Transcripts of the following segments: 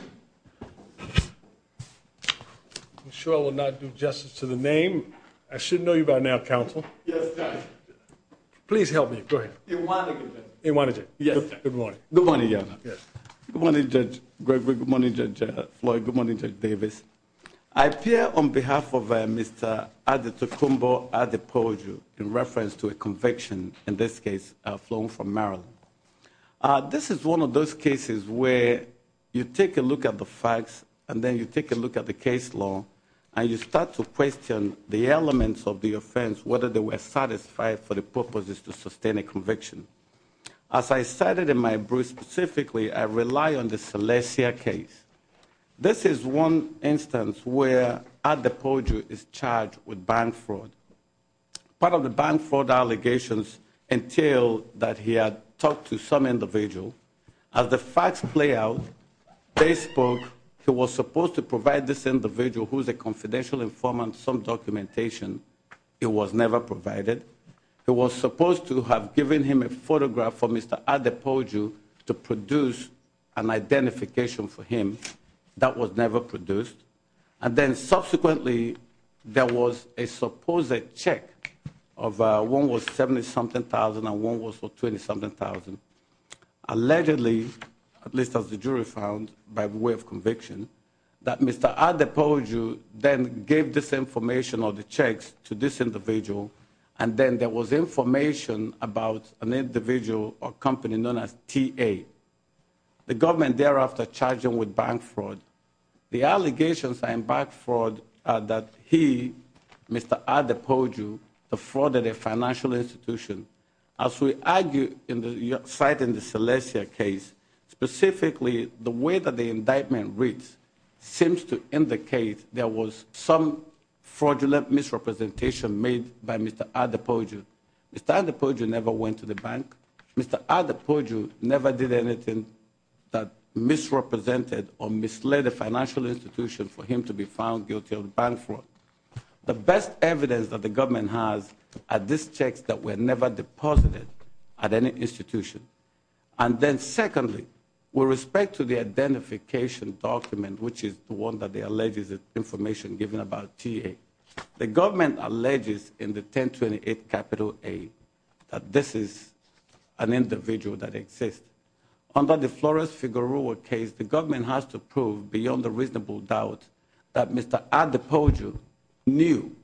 I'm sure I will not do justice to the name. I should know you by now, counsel. Yes, Judge. Please help me. Go ahead. Iwanige. Iwanige. Yes, Judge. Good morning. Good morning, Your Honor. Yes. Good morning, Judge Gregory. Good morning, Judge Floyd. Good morning, Judge Davis. I appear on behalf of Mr. Adetokunbo Adepoju in reference to a conviction, in this case, flown from Maryland. This is one of those cases where you take a look at the facts and then you take a look at the case law and you start to question the elements of the offense, whether they were satisfied for the purposes to sustain a conviction. As I cited in my brief, specifically, I rely on the Celestia case. This is one instance where Adepoju is charged with bank fraud. Part of the bank fraud allegations entail that he had talked to some individual. As the facts play out, they spoke he was supposed to provide this individual who is a confidential informant some documentation. It was never provided. It was supposed to have given him a photograph for Mr. Adepoju to produce an identification for him. That was never produced. And then subsequently, there was a supposed check of one was 70-something thousand and one was for 20-something thousand. Allegedly, at least as the jury found by way of conviction, that Mr. Adepoju then gave this information or the checks to this individual. And then there was information about an individual or company known as TA. The government thereafter charged him with bank fraud. The allegations are in bank fraud that he, Mr. Adepoju, defrauded a financial institution. As we argue in the Celestia case, specifically, the way that the indictment reads seems to indicate there was some fraudulent misrepresentation made by Mr. Adepoju. Mr. Adepoju never went to the bank. Mr. Adepoju never did anything that misrepresented or misled a financial institution for him to be found guilty of bank fraud. The best evidence that the government has are these checks that were never deposited at any institution. And then secondly, with respect to the identification document, which is the one that alleges information given about TA, the government alleges in the 1028 A that this is an individual that exists. Under the Flores-Figueroa case, the government has to prove beyond a reasonable doubt that Mr. Adepoju knew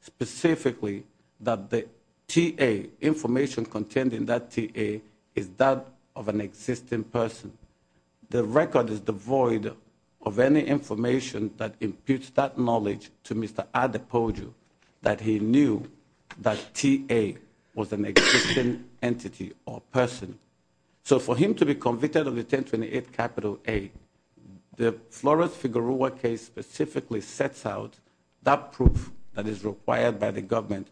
specifically that the TA, information contained in that TA, is that of an existing person. The record is devoid of any information that imputes that knowledge to Mr. Adepoju that he knew that TA was an existing entity or person. So for him to be convicted of the 1028 A, the Flores-Figueroa case specifically sets out that proof that is required by the government.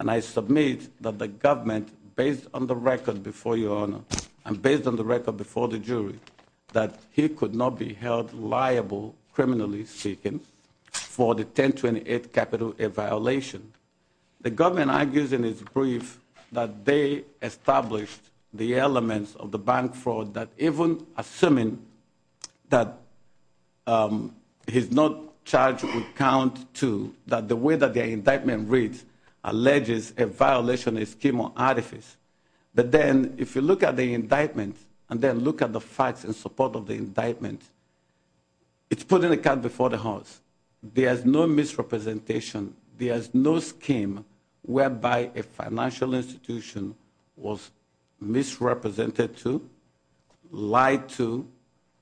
And I submit that the government, based on the record before Your Honor, and based on the record before the jury, that he could not be held liable, criminally speaking, for the 1028 A capital violation. The government argues in its brief that they established the elements of the bank fraud that, even assuming that he's not charged with count two, that the way that the indictment reads, alleges a violation of a scheme or artifice. But then if you look at the indictment, and then look at the facts in support of the indictment, it's putting the cat before the horse. There is no misrepresentation. There is no scheme whereby a financial institution was misrepresented to, lied to,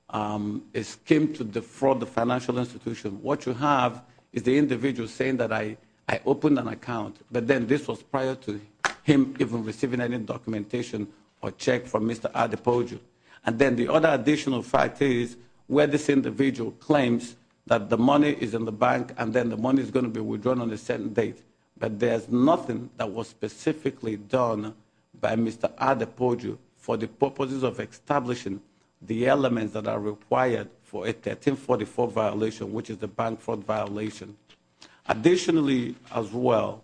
a scheme to defraud the financial institution. What you have is the individual saying that I opened an account. But then this was prior to him even receiving any documentation or check from Mr. Adepoju. And then the other additional fact is where this individual claims that the money is in the bank and then the money is going to be withdrawn on a certain date, but there's nothing that was specifically done by Mr. Adepoju for the purposes of establishing the elements that are required for a 1344 violation, which is the bank fraud violation. Additionally, as well,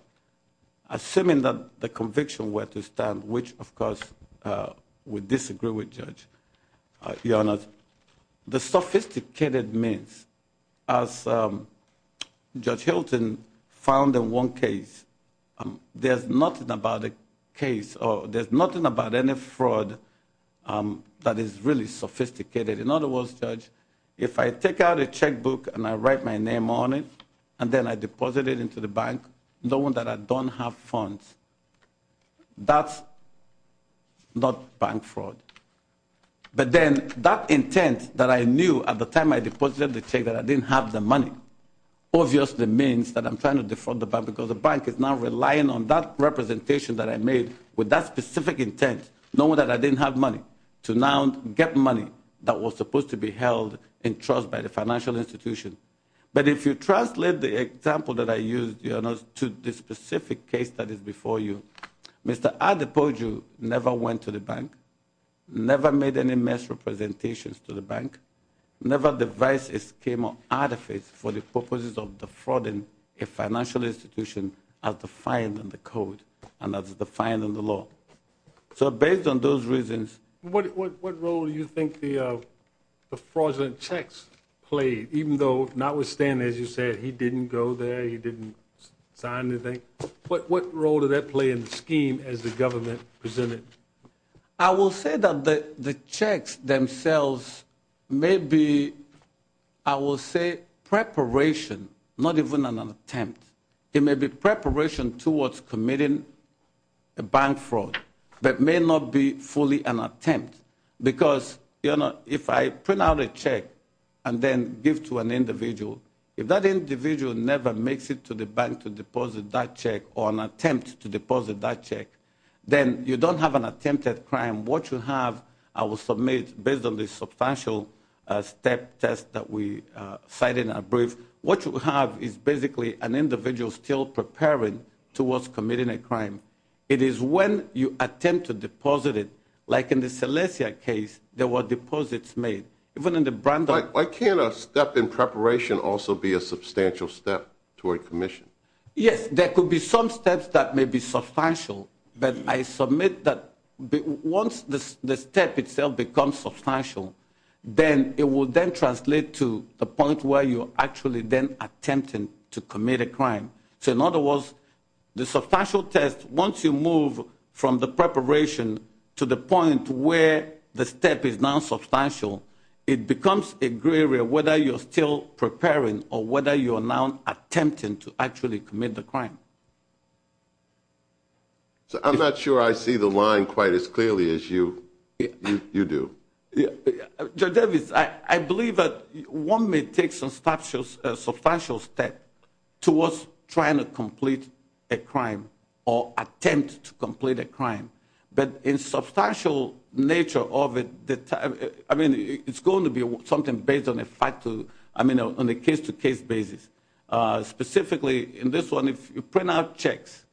assuming that the conviction were to stand, which, of course, we disagree with, Judge. Your Honor, the sophisticated means, as Judge Hilton found in one case, there's nothing about a case or there's nothing about any fraud that is really sophisticated. In other words, Judge, if I take out a checkbook and I write my name on it and then I deposit it into the bank, knowing that I don't have funds, that's not bank fraud. But then that intent that I knew at the time I deposited the check that I didn't have the money obviously means that I'm trying to defraud the bank because the bank is now relying on that representation that I made with that specific intent, knowing that I didn't have money, to now get money that was supposed to be held in trust by the financial institution. But if you translate the example that I used, Your Honor, to the specific case that is before you, Mr. Adepoju never went to the bank, never made any mass representations to the bank, never devised a scheme or artifice for the purposes of defrauding a financial institution as defined in the code and as defined in the law. So based on those reasons – What role do you think the fraudulent checks played, even though notwithstanding, as you said, he didn't go there, he didn't sign anything? What role did that play in the scheme as the government presented it? I will say that the checks themselves may be, I will say, preparation, not even an attempt. It may be preparation towards committing a bank fraud that may not be fully an attempt. Because, Your Honor, if I print out a check and then give it to an individual, if that individual never makes it to the bank to deposit that check or an attempt to deposit that check, then you don't have an attempted crime. What you have, I will submit based on the substantial step test that we cited in our brief, what you have is basically an individual still preparing towards committing a crime. It is when you attempt to deposit it, like in the Celestia case, there were deposits made. Why can't a step in preparation also be a substantial step toward commission? Yes, there could be some steps that may be substantial, but I submit that once the step itself becomes substantial, then it will then translate to the point where you're actually then attempting to commit a crime. So in other words, the substantial test, once you move from the preparation to the point where the step is now substantial, it becomes a gray area whether you're still preparing or whether you're now attempting to actually commit the crime. So I'm not sure I see the line quite as clearly as you do. Yeah. Judge Davis, I believe that one may take substantial step towards trying to complete a crime or attempt to complete a crime, but in substantial nature of it, I mean, it's going to be something based on a fact to, I mean, on a case-to-case basis. Specifically in this one, if you print out checks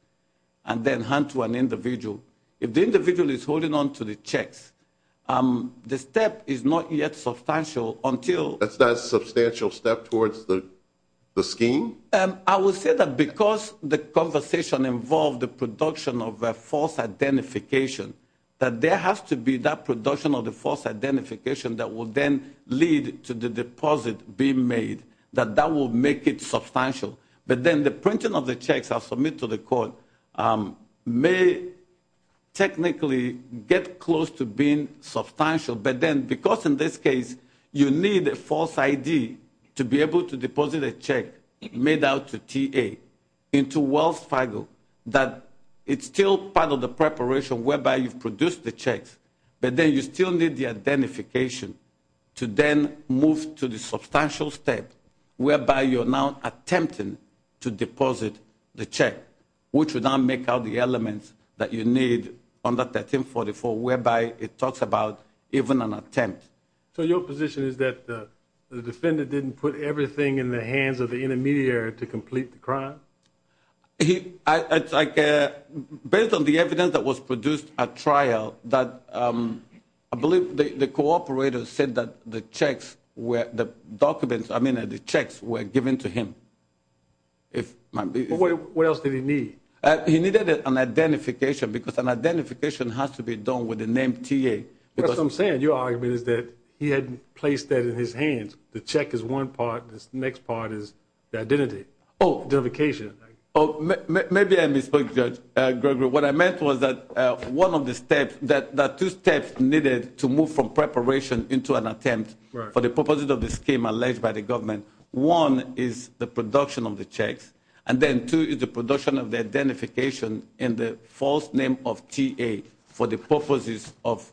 and then hand to an individual, if the individual is holding on to the checks, the step is not yet substantial until... That's not a substantial step towards the scheme? I would say that because the conversation involved the production of a false identification, that there has to be that production of the false identification that will then lead to the deposit being made, that that will make it substantial. But then the printing of the checks are submitted to the court may technically get close to being substantial, but then because in this case you need a false ID to be able to deposit a check made out to TA into Wells Fargo, that it's still part of the preparation whereby you've produced the checks, but then you still need the identification to then move to the substantial step whereby you're now attempting to deposit the check, which would now make out the elements that you need under 1344, whereby it talks about even an attempt. So your position is that the defendant didn't put everything in the hands of the intermediary to complete the crime? Based on the evidence that was produced at trial, I believe the cooperator said that the checks were given to him. What else did he need? He needed an identification because an identification has to be done with the name TA. What I'm saying, your argument is that he hadn't placed that in his hands, the check is one part, the next part is the identification. Maybe I misspoke, Judge Gregory. What I meant was that one of the steps, there are two steps needed to move from preparation into an attempt for the purpose of the scheme alleged by the government. One is the production of the checks, and then two is the production of the identification in the false name of TA for the purposes of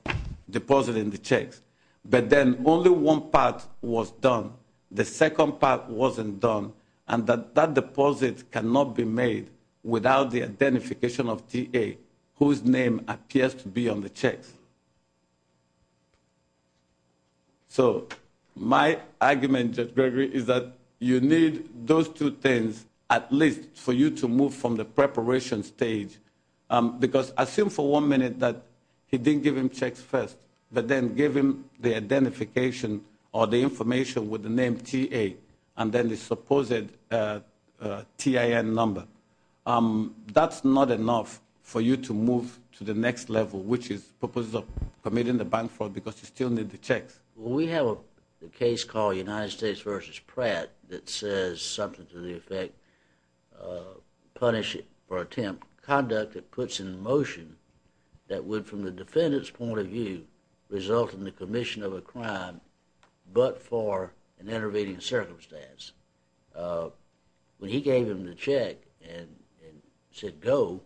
depositing the checks. But then only one part was done. The second part wasn't done, and that deposit cannot be made without the identification of TA, whose name appears to be on the checks. So my argument, Judge Gregory, is that you need those two things at least for you to move from the preparation stage. Because assume for one minute that he didn't give him checks first, but then give him the identification or the information with the name TA, and then the supposed TIN number. That's not enough for you to move to the next level, which is the purpose of committing the bank fraud because you still need the checks. We have a case called United States v. Pratt that says something to the effect punish it for attempt conduct that puts in motion that would, from the defendant's point of view, result in the commission of a crime but for an intervening circumstance. When he gave him the check and said go,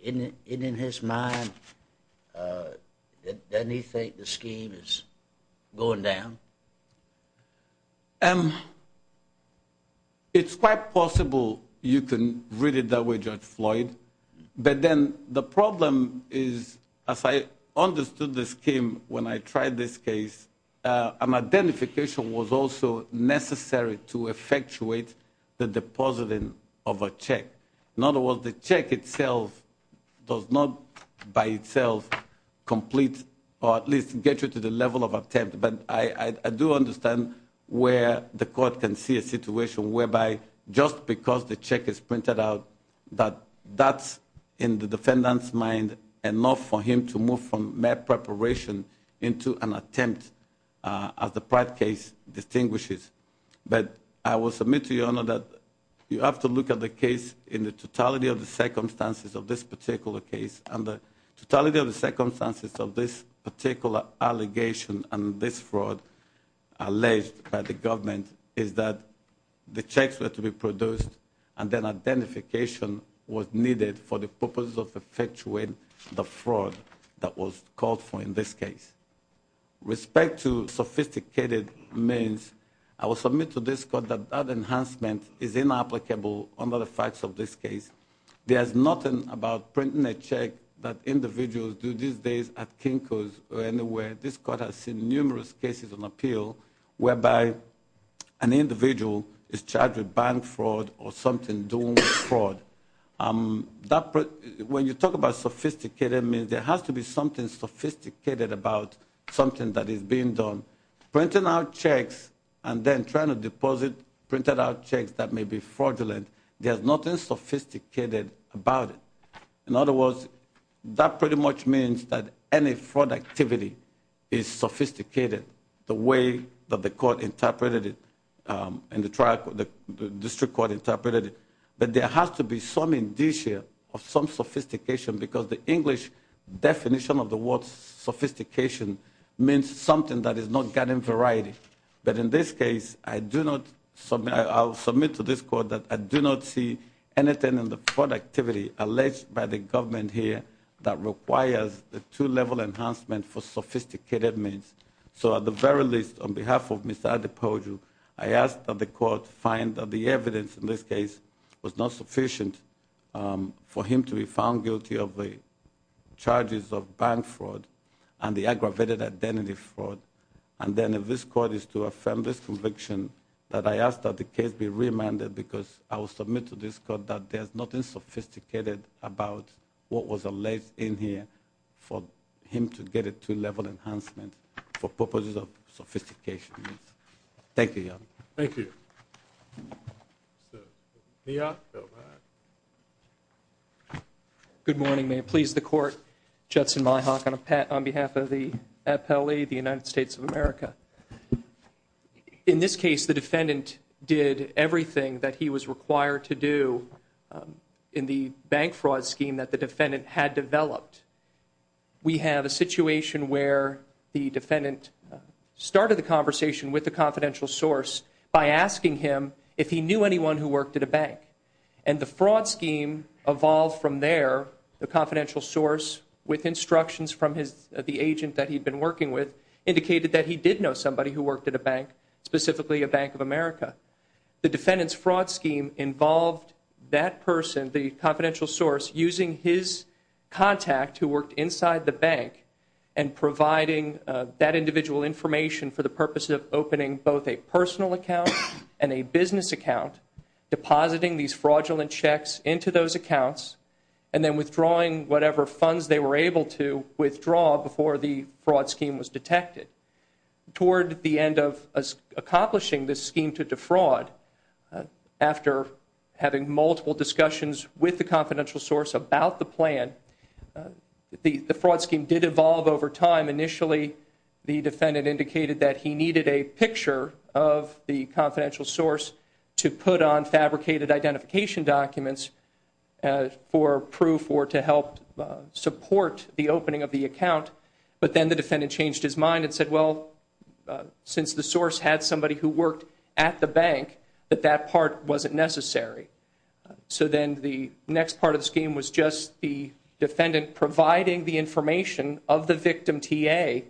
in his mind, doesn't he think the scheme is going down? It's quite possible you can read it that way, Judge Floyd, but then the problem is, as I understood the scheme when I tried this case, an identification was also necessary to effectuate the depositing of a check. In other words, the check itself does not by itself complete or at least get you to the level of attempt. But I do understand where the court can see a situation whereby just because the check is printed out that that's, in the defendant's mind, enough for him to move from mere preparation into an attempt, as the Pratt case distinguishes. But I will submit to your Honor that you have to look at the case in the totality of the circumstances of this particular case and the totality of the circumstances of this particular allegation and this fraud alleged by the government is that the checks were to be produced and then identification was needed for the purpose of effectuating the fraud that was called for in this case. With respect to sophisticated means, I will submit to this court that that enhancement is inapplicable under the facts of this case. There is nothing about printing a check that individuals do these days at Kinko's or anywhere. This court has seen numerous cases on appeal whereby an individual is charged with bank fraud or something doing fraud. When you talk about sophisticated means, there has to be something sophisticated about something that is being done. Printing out checks and then trying to deposit printed out checks that may be fraudulent, there's nothing sophisticated about it. In other words, that pretty much means that any fraud activity is sophisticated the way that the court interpreted it, the district court interpreted it, but there has to be some indicia of some sophistication because the English definition of the word sophistication means something that is not getting variety. But in this case, I'll submit to this court that I do not see anything in the fraud activity alleged by the government here that requires a two-level enhancement for sophisticated means. So at the very least, on behalf of Mr. Adepoju, I ask that the court find that the evidence in this case was not sufficient for him to be found guilty of the charges of bank fraud and the aggravated identity fraud. And then if this court is to affirm this conviction, that I ask that the case be remanded because I will submit to this court that there's nothing sophisticated about what was alleged in here for him to get a two-level enhancement for purposes of sophistication. Thank you, Your Honor. Thank you. Good morning. May it please the court. Judson Myhock on behalf of the FLE, the United States of America. In this case, the defendant did everything that he was required to do in the bank fraud scheme that the defendant had developed. We have a situation where the defendant started the conversation with the confidential source by asking him if he knew anyone who worked at a bank. And the fraud scheme evolved from there. The confidential source, with instructions from the agent that he'd been working with, indicated that he did know somebody who worked at a bank, specifically a Bank of America. The defendant's fraud scheme involved that person, the confidential source, using his contact who worked inside the bank and providing that individual information for the purpose of opening both a personal account and a business account, depositing these fraudulent checks into those accounts, and then withdrawing whatever funds they were able to withdraw before the fraud scheme was detected. Toward the end of accomplishing this scheme to defraud, after having multiple discussions with the confidential source about the plan, the fraud scheme did evolve over time. Initially, the defendant indicated that he needed a picture of the confidential source to put on fabricated identification documents for proof or to help support the opening of the account. But then the defendant changed his mind and said, well, since the source had somebody who worked at the bank, that that part wasn't necessary. So then the next part of the scheme was just the defendant providing the information of the victim TA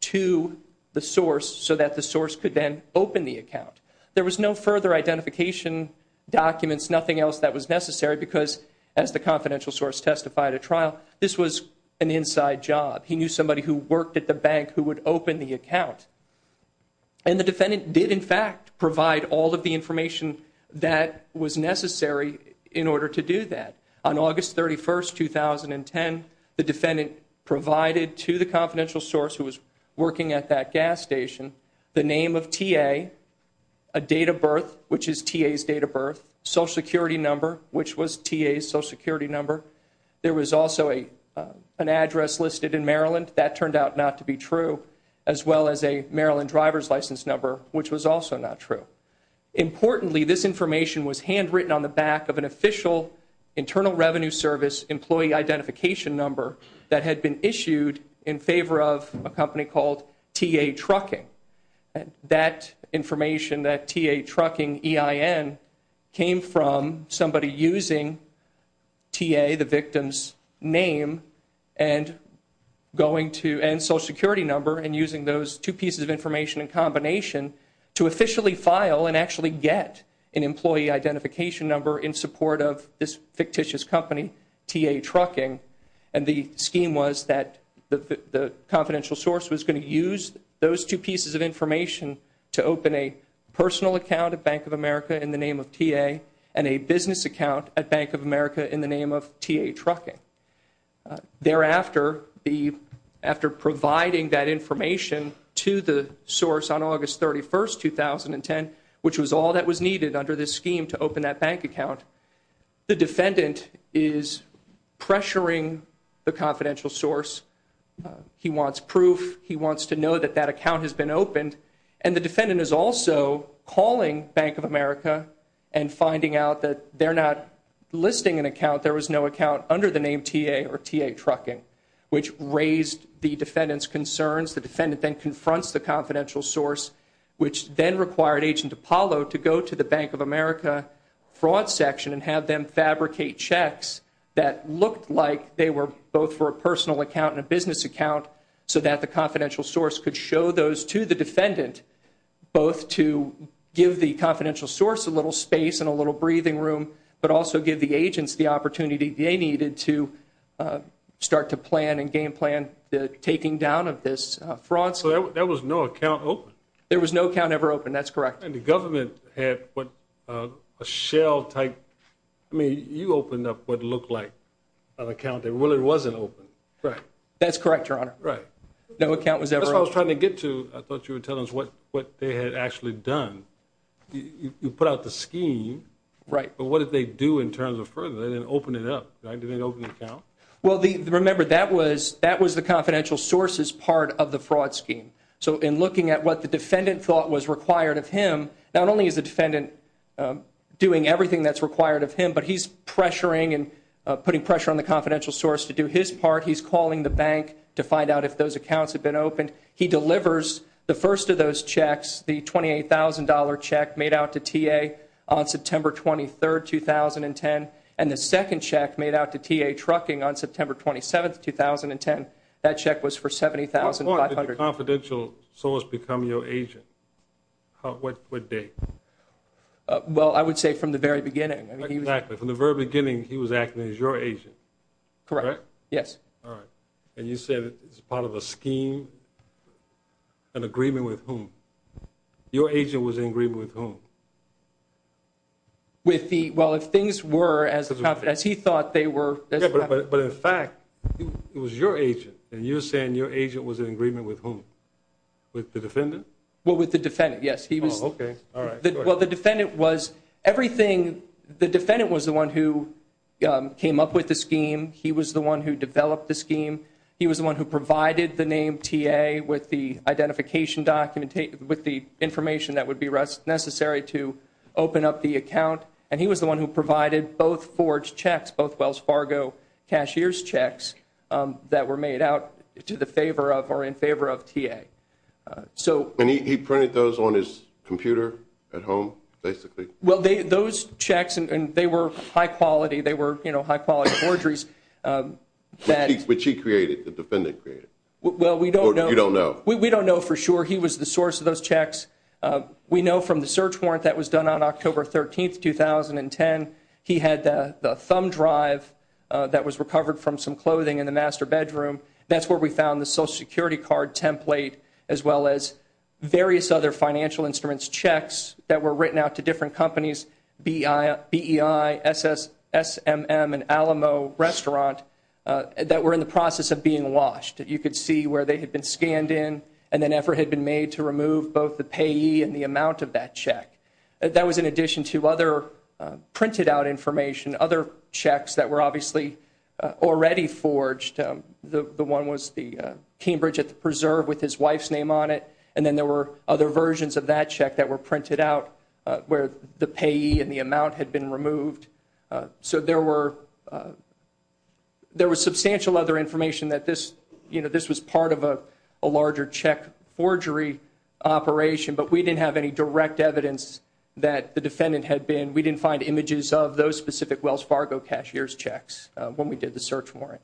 to the source so that the source could then open the account. There was no further identification documents, nothing else that was necessary, because as the confidential source testified at trial, this was an inside job. He knew somebody who worked at the bank who would open the account. And the defendant did, in fact, provide all of the information that was necessary in order to do that. On August 31, 2010, the defendant provided to the confidential source who was working at that gas station the name of TA, a date of birth, which is TA's date of birth, Social Security number, which was TA's Social Security number. There was also an address listed in Maryland. That turned out not to be true, as well as a Maryland driver's license number, which was also not true. Importantly, this information was handwritten on the back of an official Internal Revenue Service employee identification number that had been issued in favor of a company called TA Trucking. That information, that TA Trucking EIN, came from somebody using TA, the victim's name, and Social Security number, and using those two pieces of information in combination to officially file and actually get an employee identification number in support of this fictitious company, TA Trucking. And the scheme was that the confidential source was going to use those two pieces of information to open a personal account at Bank of America in the name of TA and a business account at Bank of America in the name of TA Trucking. Thereafter, after providing that information to the source on August 31, 2010, which was all that was needed under this scheme to open that bank account, the defendant is pressuring the confidential source. He wants proof. He wants to know that that account has been opened. And the defendant is also calling Bank of America and finding out that they're not listing an account. There was no account under the name TA or TA Trucking, which raised the defendant's concerns. The defendant then confronts the confidential source, which then required Agent Apollo to go to the Bank of America fraud section and have them fabricate checks that looked like they were both for a personal account and a business account so that the confidential source could show those to the defendant, both to give the confidential source a little space and a little breathing room, but also give the agents the opportunity they needed to start to plan and game plan the taking down of this fraud. So there was no account open? There was no account ever open. That's correct. And the government had what a shell-type... I mean, you opened up what looked like an account that really wasn't open. That's correct, Your Honor. No account was ever opened. That's what I was trying to get to. I thought you were telling us what they had actually done. You put out the scheme, but what did they do in terms of further? They didn't open it up. They didn't open the account? Well, remember, that was the confidential source's part of the fraud scheme. So in looking at what the defendant thought was required of him, not only is the defendant doing everything that's required of him, but he's pressuring and putting pressure on the confidential source to do his part. He's calling the bank to find out if those accounts have been opened. He delivers the first of those checks, the $28,000 check made out to T.A. on September 23, 2010, and the second check made out to T.A. Trucking on September 27, 2010. That check was for $70,500. What point did the confidential source become your agent? What date? Well, I would say from the very beginning. Exactly. From the very beginning, he was acting as your agent. Correct. Yes. All right. And you said it's part of a scheme, an agreement with whom? Your agent was in agreement with whom? Well, if things were as he thought they were. But in fact, it was your agent, and you're saying your agent was in agreement with whom? With the defendant? Well, with the defendant, yes. Oh, okay. All right. Well, the defendant was everything. The defendant was the one who came up with the scheme. He was the one who developed the scheme. He was the one who provided the name T.A. with the information that would be necessary to open up the account, and he was the one who provided both forged checks, both Wells Fargo cashier's checks, that were made out to the favor of or in favor of T.A. And he printed those on his computer at home, basically? Well, those checks, and they were high-quality. They were high-quality forgeries. Which he created, the defendant created? Well, we don't know. Or you don't know? We don't know for sure. He was the source of those checks. We know from the search warrant that was done on October 13, 2010, he had the thumb drive that was recovered from some clothing in the master bedroom. That's where we found the Social Security card template, as well as various other financial instruments, checks that were written out to different companies, BEI, SS, SMM, and Alamo restaurant that were in the process of being washed. You could see where they had been scanned in and an effort had been made to remove both the payee and the amount of that check. That was in addition to other printed-out information, other checks that were obviously already forged. The one was the Cambridge at the Preserve with his wife's name on it, and then there were other versions of that check that were printed out where the payee and the amount had been removed. So there was substantial other information that this was part of a larger check forgery operation, but we didn't have any direct evidence that the defendant had been. We didn't find images of those specific Wells Fargo cashier's checks when we did the search warrant.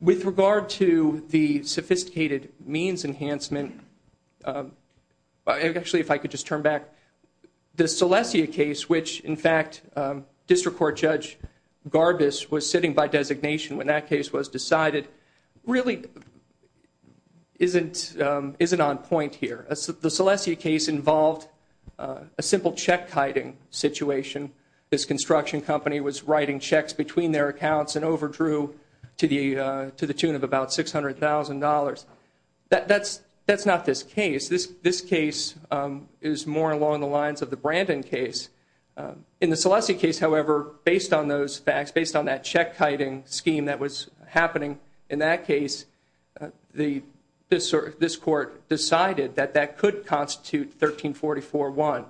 With regard to the sophisticated means enhancement, actually if I could just turn back, the Celestia case, which in fact District Court Judge Garbus was sitting by designation when that case was decided, really isn't on point here. The Celestia case involved a simple check-kiting situation. This construction company was writing checks between their accounts and overdrew to the tune of about $600,000. That's not this case. This case is more along the lines of the Brandon case. In the Celestia case, however, based on those facts, based on that check-kiting scheme that was happening in that case, this Court decided that that could constitute 1344-1.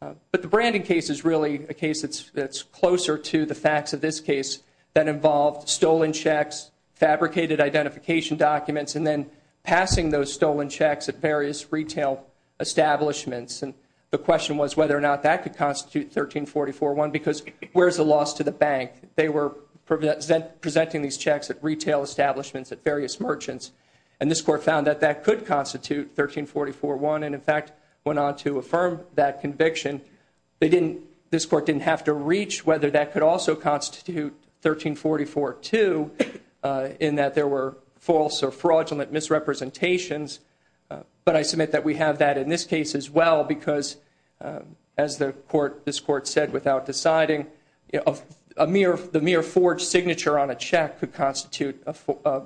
But the Brandon case is really a case that's closer to the facts of this case that involved stolen checks, fabricated identification documents, and then passing those stolen checks at various retail establishments. The question was whether or not that could constitute 1344-1 because where's the loss to the bank? They were presenting these checks at retail establishments, at various merchants, and this Court found that that could constitute 1344-1 and, in fact, went on to affirm that conviction. This Court didn't have to reach whether that could also constitute 1344-2 in that there were false or fraudulent misrepresentations, but I submit that we have that in this case as well because, as this Court said without deciding, the mere forged signature on a check could constitute a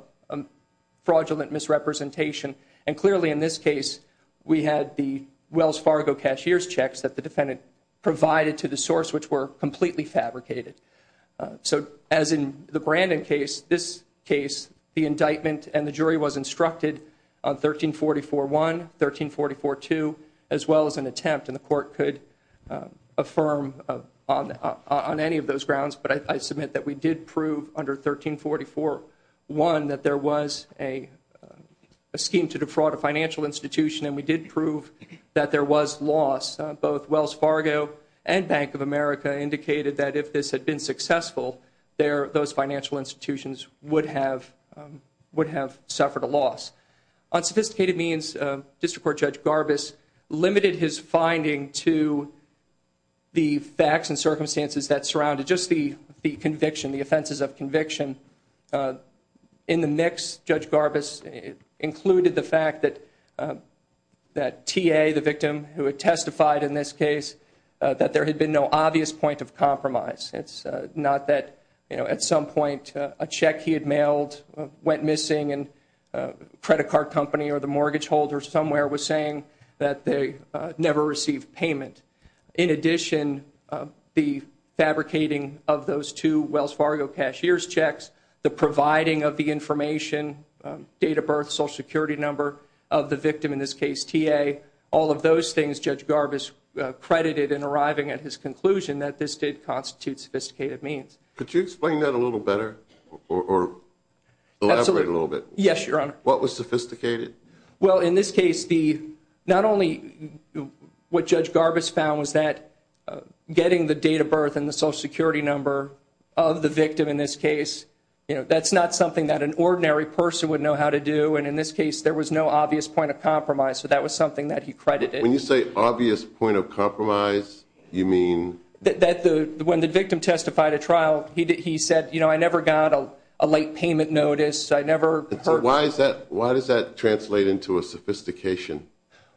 fraudulent misrepresentation, and clearly in this case we had the Wells Fargo cashier's checks that the defendant provided to the source which were completely fabricated. So as in the Brandon case, this case, the indictment and the jury was instructed on 1344-1, 1344-2, as well as an attempt, and the Court could affirm on any of those grounds, but I submit that we did prove under 1344-1 that there was a scheme to defraud a financial institution and we did prove that there was loss. Both Wells Fargo and Bank of America indicated that if this had been successful, those financial institutions would have suffered a loss. On sophisticated means, District Court Judge Garbus limited his finding to the facts and circumstances that surrounded just the conviction, the offenses of conviction. In the mix, Judge Garbus included the fact that T.A., the victim who had testified in this case, that there had been no obvious point of compromise. It's not that at some point a check he had mailed went missing and a credit card company or the mortgage holder somewhere was saying that they never received payment. In addition, the fabricating of those two Wells Fargo cashier's checks, the providing of the information, date of birth, Social Security number of the victim, in this case T.A., all of those things Judge Garbus credited in arriving at his conclusion that this did constitute sophisticated means. Could you explain that a little better or elaborate a little bit? Yes, Your Honor. What was sophisticated? Well, in this case, not only what Judge Garbus found was that getting the date of birth and the Social Security number of the victim in this case, that's not something that an ordinary person would know how to do, and in this case there was no obvious point of compromise. So that was something that he credited. When you say obvious point of compromise, you mean? When the victim testified at trial, he said, you know, I never got a late payment notice. I never heard. Why does that translate into a sophistication?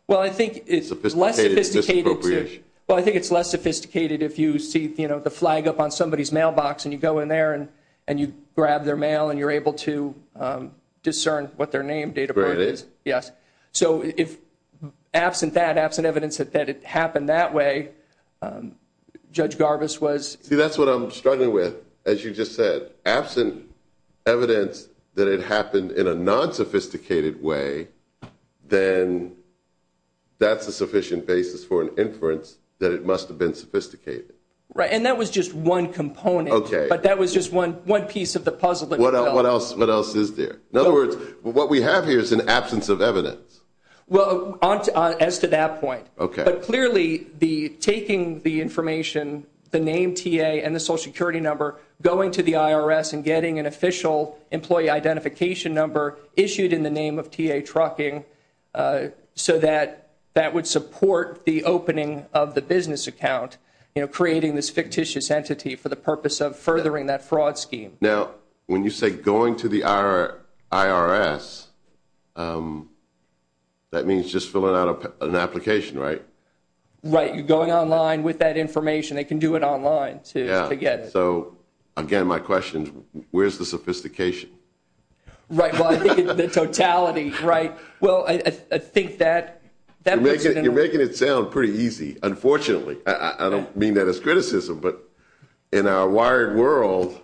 Well, I think it's less sophisticated. Well, I think it's less sophisticated if you see the flag up on somebody's mailbox and you go in there and you grab their mail and you're able to discern what their name, date of birth is. Yes. So if absent that, absent evidence that it happened that way, Judge Garbus was... See, that's what I'm struggling with. As you just said, absent evidence that it happened in a nonsophisticated way, then that's a sufficient basis for an inference that it must have been sophisticated. Right, and that was just one component. Okay. But that was just one piece of the puzzle that we developed. What else is there? In other words, what we have here is an absence of evidence. Well, as to that point. Okay. But clearly taking the information, the name T.A. and the Social Security number, going to the IRS and getting an official employee identification number issued in the name of T.A. Trucking so that that would support the opening of the business account, creating this fictitious entity for the purpose of furthering that fraud scheme. Now, when you say going to the IRS, that means just filling out an application, right? Right. You're going online with that information. They can do it online to get it. Yeah. So, again, my question, where's the sophistication? Right. Well, I think the totality, right? Well, I think that puts it in a... You're making it sound pretty easy, unfortunately. I don't mean that as criticism, but in our wired world,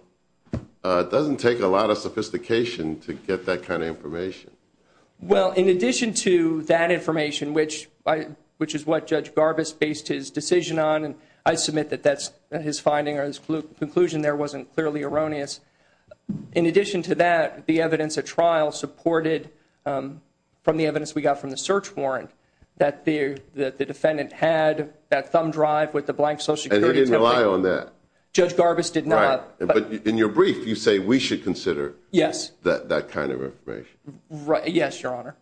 it doesn't take a lot of sophistication to get that kind of information. Well, in addition to that information, which is what Judge Garbus based his decision on, and I submit that that's his finding or his conclusion there wasn't clearly erroneous, in addition to that, the evidence at trial supported from the evidence we got from the search warrant that the defendant had that thumb drive with the blank Social Security template. And he didn't rely on that. Judge Garbus did not. But in your brief, you say we should consider that kind of information. Yes, Your Honor.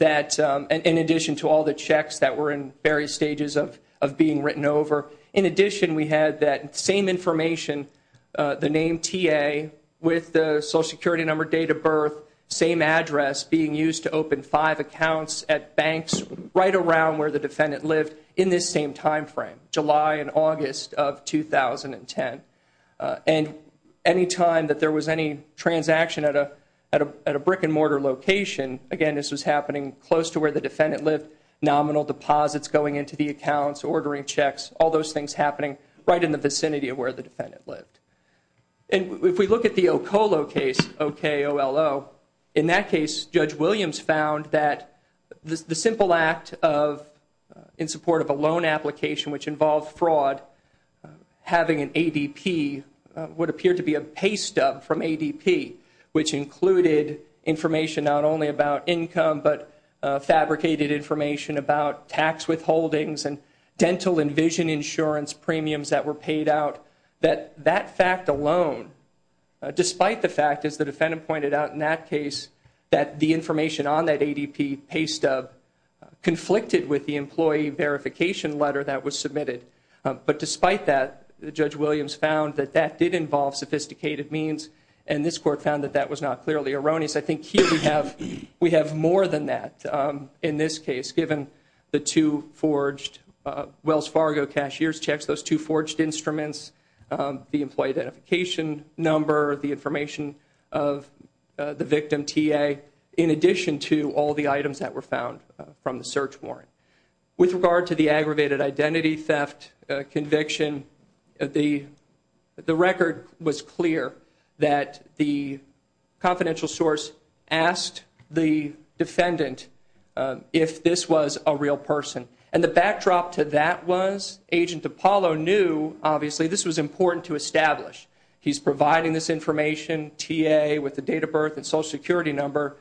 In addition to all the checks that were in various stages of being written over, in addition we had that same information, the name TA with the Social Security number, date of birth, same address being used to open five accounts at banks right around where the defendant lived in this same time frame, July and August of 2010. And any time that there was any transaction at a brick-and-mortar location, again, this was happening close to where the defendant lived, nominal deposits going into the accounts, ordering checks, all those things happening right in the vicinity of where the defendant lived. And if we look at the Okolo case, O-K-O-L-O, in that case, Judge Williams found that the simple act in support of a loan application which involved fraud, having an ADP, what appeared to be a pay stub from ADP, which included information not only about income but fabricated information about tax withholdings and dental and vision insurance premiums that were paid out, that that fact alone, despite the fact, as the defendant pointed out in that case, that the information on that ADP pay stub conflicted with the employee verification letter that was submitted. But despite that, Judge Williams found that that did involve sophisticated means, and this Court found that that was not clearly erroneous. I think here we have more than that in this case, given the two forged Wells Fargo cashier's checks, those two forged instruments, the employee identification number, the information of the victim T.A., in addition to all the items that were found from the search warrant. With regard to the aggravated identity theft conviction, the record was clear that the confidential source asked the defendant if this was a real person. And the backdrop to that was Agent Apollo knew, obviously, this was important to establish. He's providing this information, T.A., with the date of birth and Social Security number,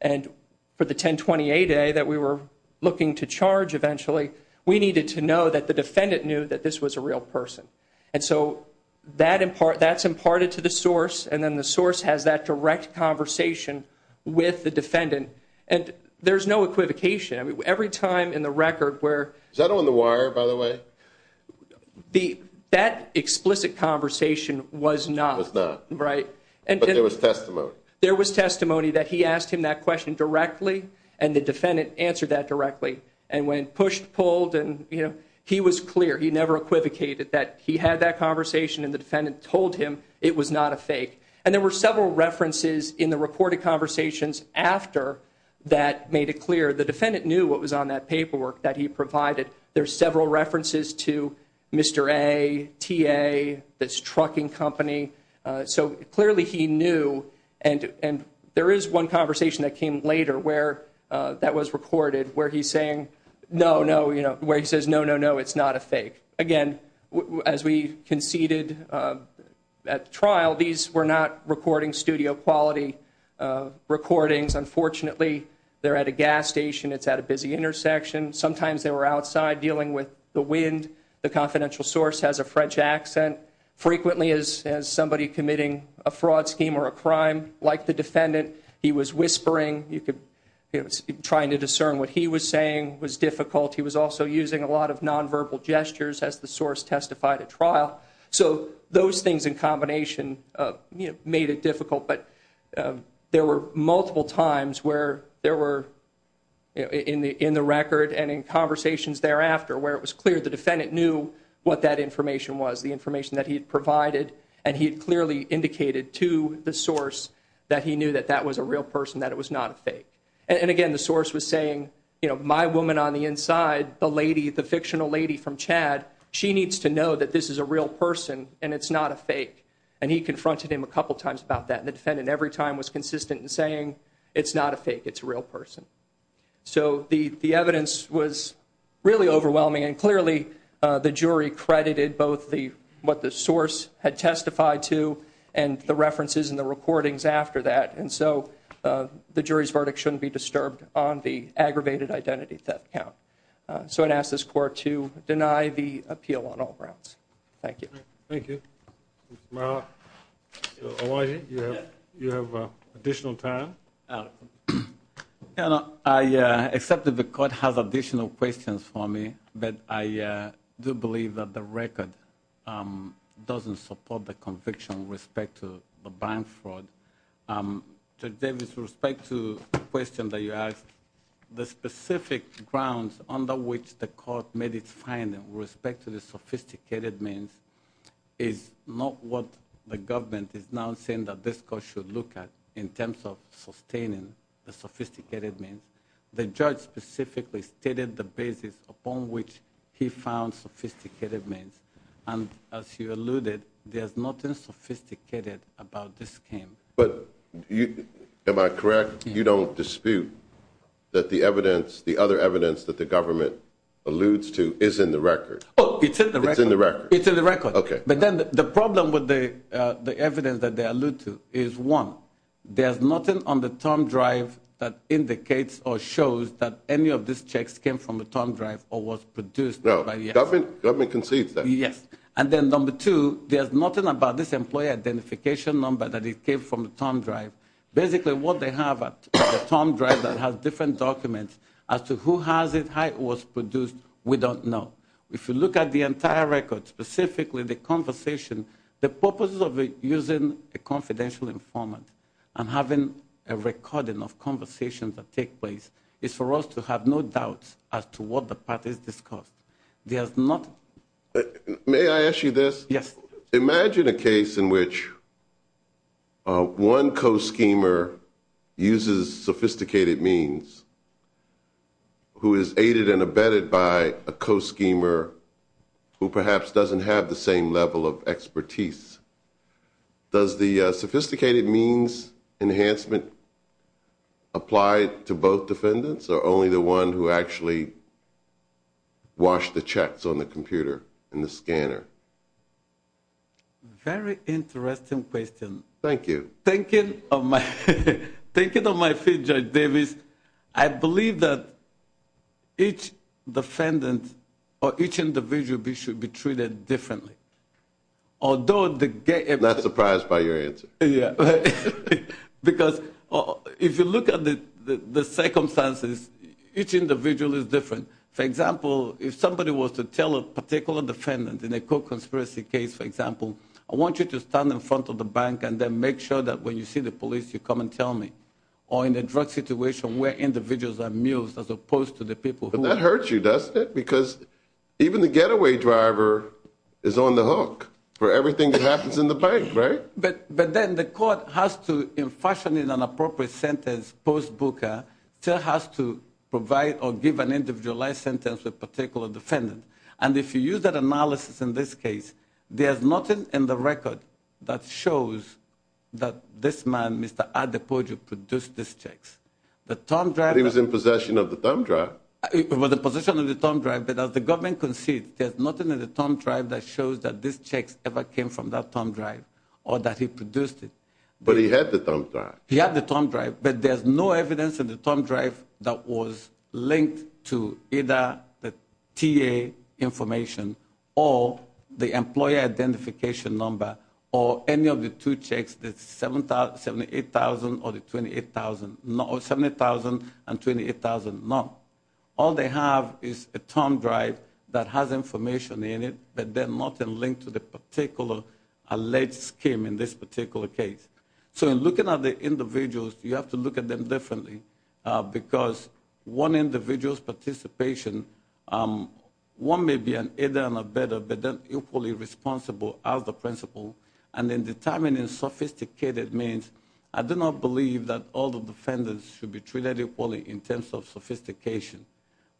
and for the 1028A that we were looking to charge eventually, we needed to know that the defendant knew that this was a real person. And so that's imparted to the source, and then the source has that direct conversation with the defendant. And there's no equivocation. Every time in the record where... Is that on the wire, by the way? That explicit conversation was not. Was not. Right. But there was testimony. There was testimony that he asked him that question directly, and the defendant answered that directly. And when pushed, pulled, and, you know, he was clear. He never equivocated that he had that conversation, and the defendant told him it was not a fake. And there were several references in the reported conversations after that made it clear. The defendant knew what was on that paperwork that he provided. There's several references to Mr. A, T.A., this trucking company. So clearly he knew. And there is one conversation that came later where that was recorded where he's saying, no, no, you know, where he says, no, no, no, it's not a fake. Again, as we conceded at trial, these were not recording studio quality recordings. Unfortunately, they're at a gas station. It's at a busy intersection. Sometimes they were outside dealing with the wind. The confidential source has a French accent. Frequently as somebody committing a fraud scheme or a crime, like the defendant, he was whispering. He was trying to discern what he was saying was difficult. He was also using a lot of nonverbal gestures as the source testified at trial. So those things in combination made it difficult. But there were multiple times where there were in the record and in conversations thereafter where it was clear the defendant knew what that information was, the information that he had provided, and he had clearly indicated to the source that he knew that that was a real person, that it was not a fake. And, again, the source was saying, you know, my woman on the inside, the lady, the fictional lady from Chad, she needs to know that this is a real person and it's not a fake. And he confronted him a couple times about that, and the defendant every time was consistent in saying it's not a fake, it's a real person. So the evidence was really overwhelming, and clearly the jury credited both what the source had testified to and the references and the recordings after that. And so the jury's verdict shouldn't be disturbed on the aggravated identity theft count. So I'd ask this Court to deny the appeal on all grounds. Thank you. Thank you. Mr. Marra, Mr. Awadi, you have additional time. I accept that the Court has additional questions for me, but I do believe that the record doesn't support the conviction with respect to the bank fraud. Judge Davis, with respect to the question that you asked, the specific grounds under which the Court made its finding with respect to the sophisticated means is not what the government is now saying that this Court should look at in terms of sustaining the sophisticated means. The judge specifically stated the basis upon which he found sophisticated means, and as you alluded, there's nothing sophisticated about this scheme. But am I correct? You don't dispute that the other evidence that the government alludes to is in the record? Oh, it's in the record. It's in the record. It's in the record. Okay. But then the problem with the evidence that they allude to is, one, there's nothing on the term drive that indicates or shows that any of these checks came from the term drive or was produced by the government. The government concedes that. Yes. And then, number two, there's nothing about this employee identification number that it came from the term drive. Basically, what they have at the term drive that has different documents as to who has it, how it was produced, we don't know. If you look at the entire record, specifically the conversation, the purpose of using a confidential informant and having a recording of conversations that take place is for us to have no doubts as to what the path is discussed. There's nothing. May I ask you this? Yes. So imagine a case in which one co-schemer uses sophisticated means who is aided and abetted by a co-schemer who perhaps doesn't have the same level of expertise. Does the sophisticated means enhancement apply to both defendants or only the one who actually washed the checks on the computer and the scanner? Very interesting question. Thank you. Thinking of my field, Judge Davis, I believe that each defendant or each individual should be treated differently. Not surprised by your answer. Because if you look at the circumstances, each individual is different. For example, if somebody was to tell a particular defendant in a co-conspiracy case, for example, I want you to stand in front of the bank and then make sure that when you see the police, you come and tell me. Or in a drug situation where individuals are amused as opposed to the people who are. But that hurts you, doesn't it? Because even the getaway driver is on the hook for everything that happens in the bank, right? But then the court has to, in fashioning an appropriate sentence post-booker, still has to provide or give an individualized sentence to a particular defendant. And if you use that analysis in this case, there's nothing in the record that shows that this man, Mr. Adepoju, produced these checks. But he was in possession of the thumb drive. He was in possession of the thumb drive. But as the government concedes, there's nothing in the thumb drive that shows that these checks ever came from that thumb drive or that he produced it. But he had the thumb drive. He had the thumb drive. But there's no evidence in the thumb drive that was linked to either the TA information or the employer identification number or any of the two checks, the $78,000 or the $28,000. $78,000 and $28,000, none. All they have is a thumb drive that has information in it, but then nothing linked to the particular alleged scheme in this particular case. So in looking at the individuals, you have to look at them differently because one individual's participation, one may be an either and a better but then equally responsible as the principal. And in determining sophisticated means, I do not believe that all the defendants should be treated equally in terms of sophistication.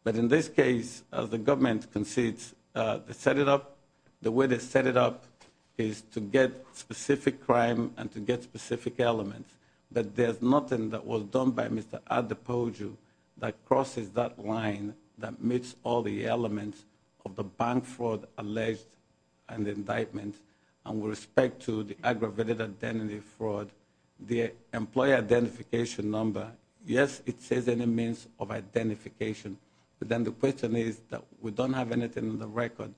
But in this case, as the government concedes, they set it up. The way they set it up is to get specific crime and to get specific elements. But there's nothing that was done by Mr. Adepoju that crosses that line that meets all the elements of the bank fraud alleged and indictment and with respect to the aggravated identity fraud, the employer identification number. Yes, it says any means of identification, but then the question is that we don't have anything in the record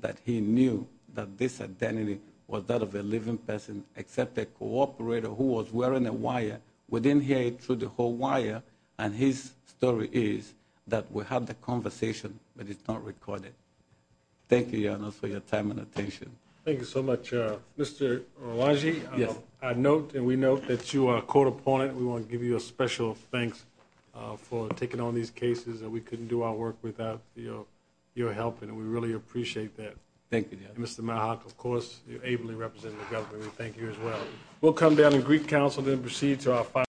that he knew that this identity was that of a living person except a cooperator who was wearing a wire. We didn't hear it through the whole wire, and his story is that we have the conversation, but it's not recorded. Thank you, Your Honor, for your time and attention. Thank you so much. Mr. Orlanje, I note and we note that you are a court opponent. We want to give you a special thanks for taking on these cases that we couldn't do our work without your help, and we really appreciate that. Thank you, Your Honor. Mr. Mohawk, of course, you're ably represented in the government. We thank you as well. We'll come down to Greek Council, then proceed to our final hearing.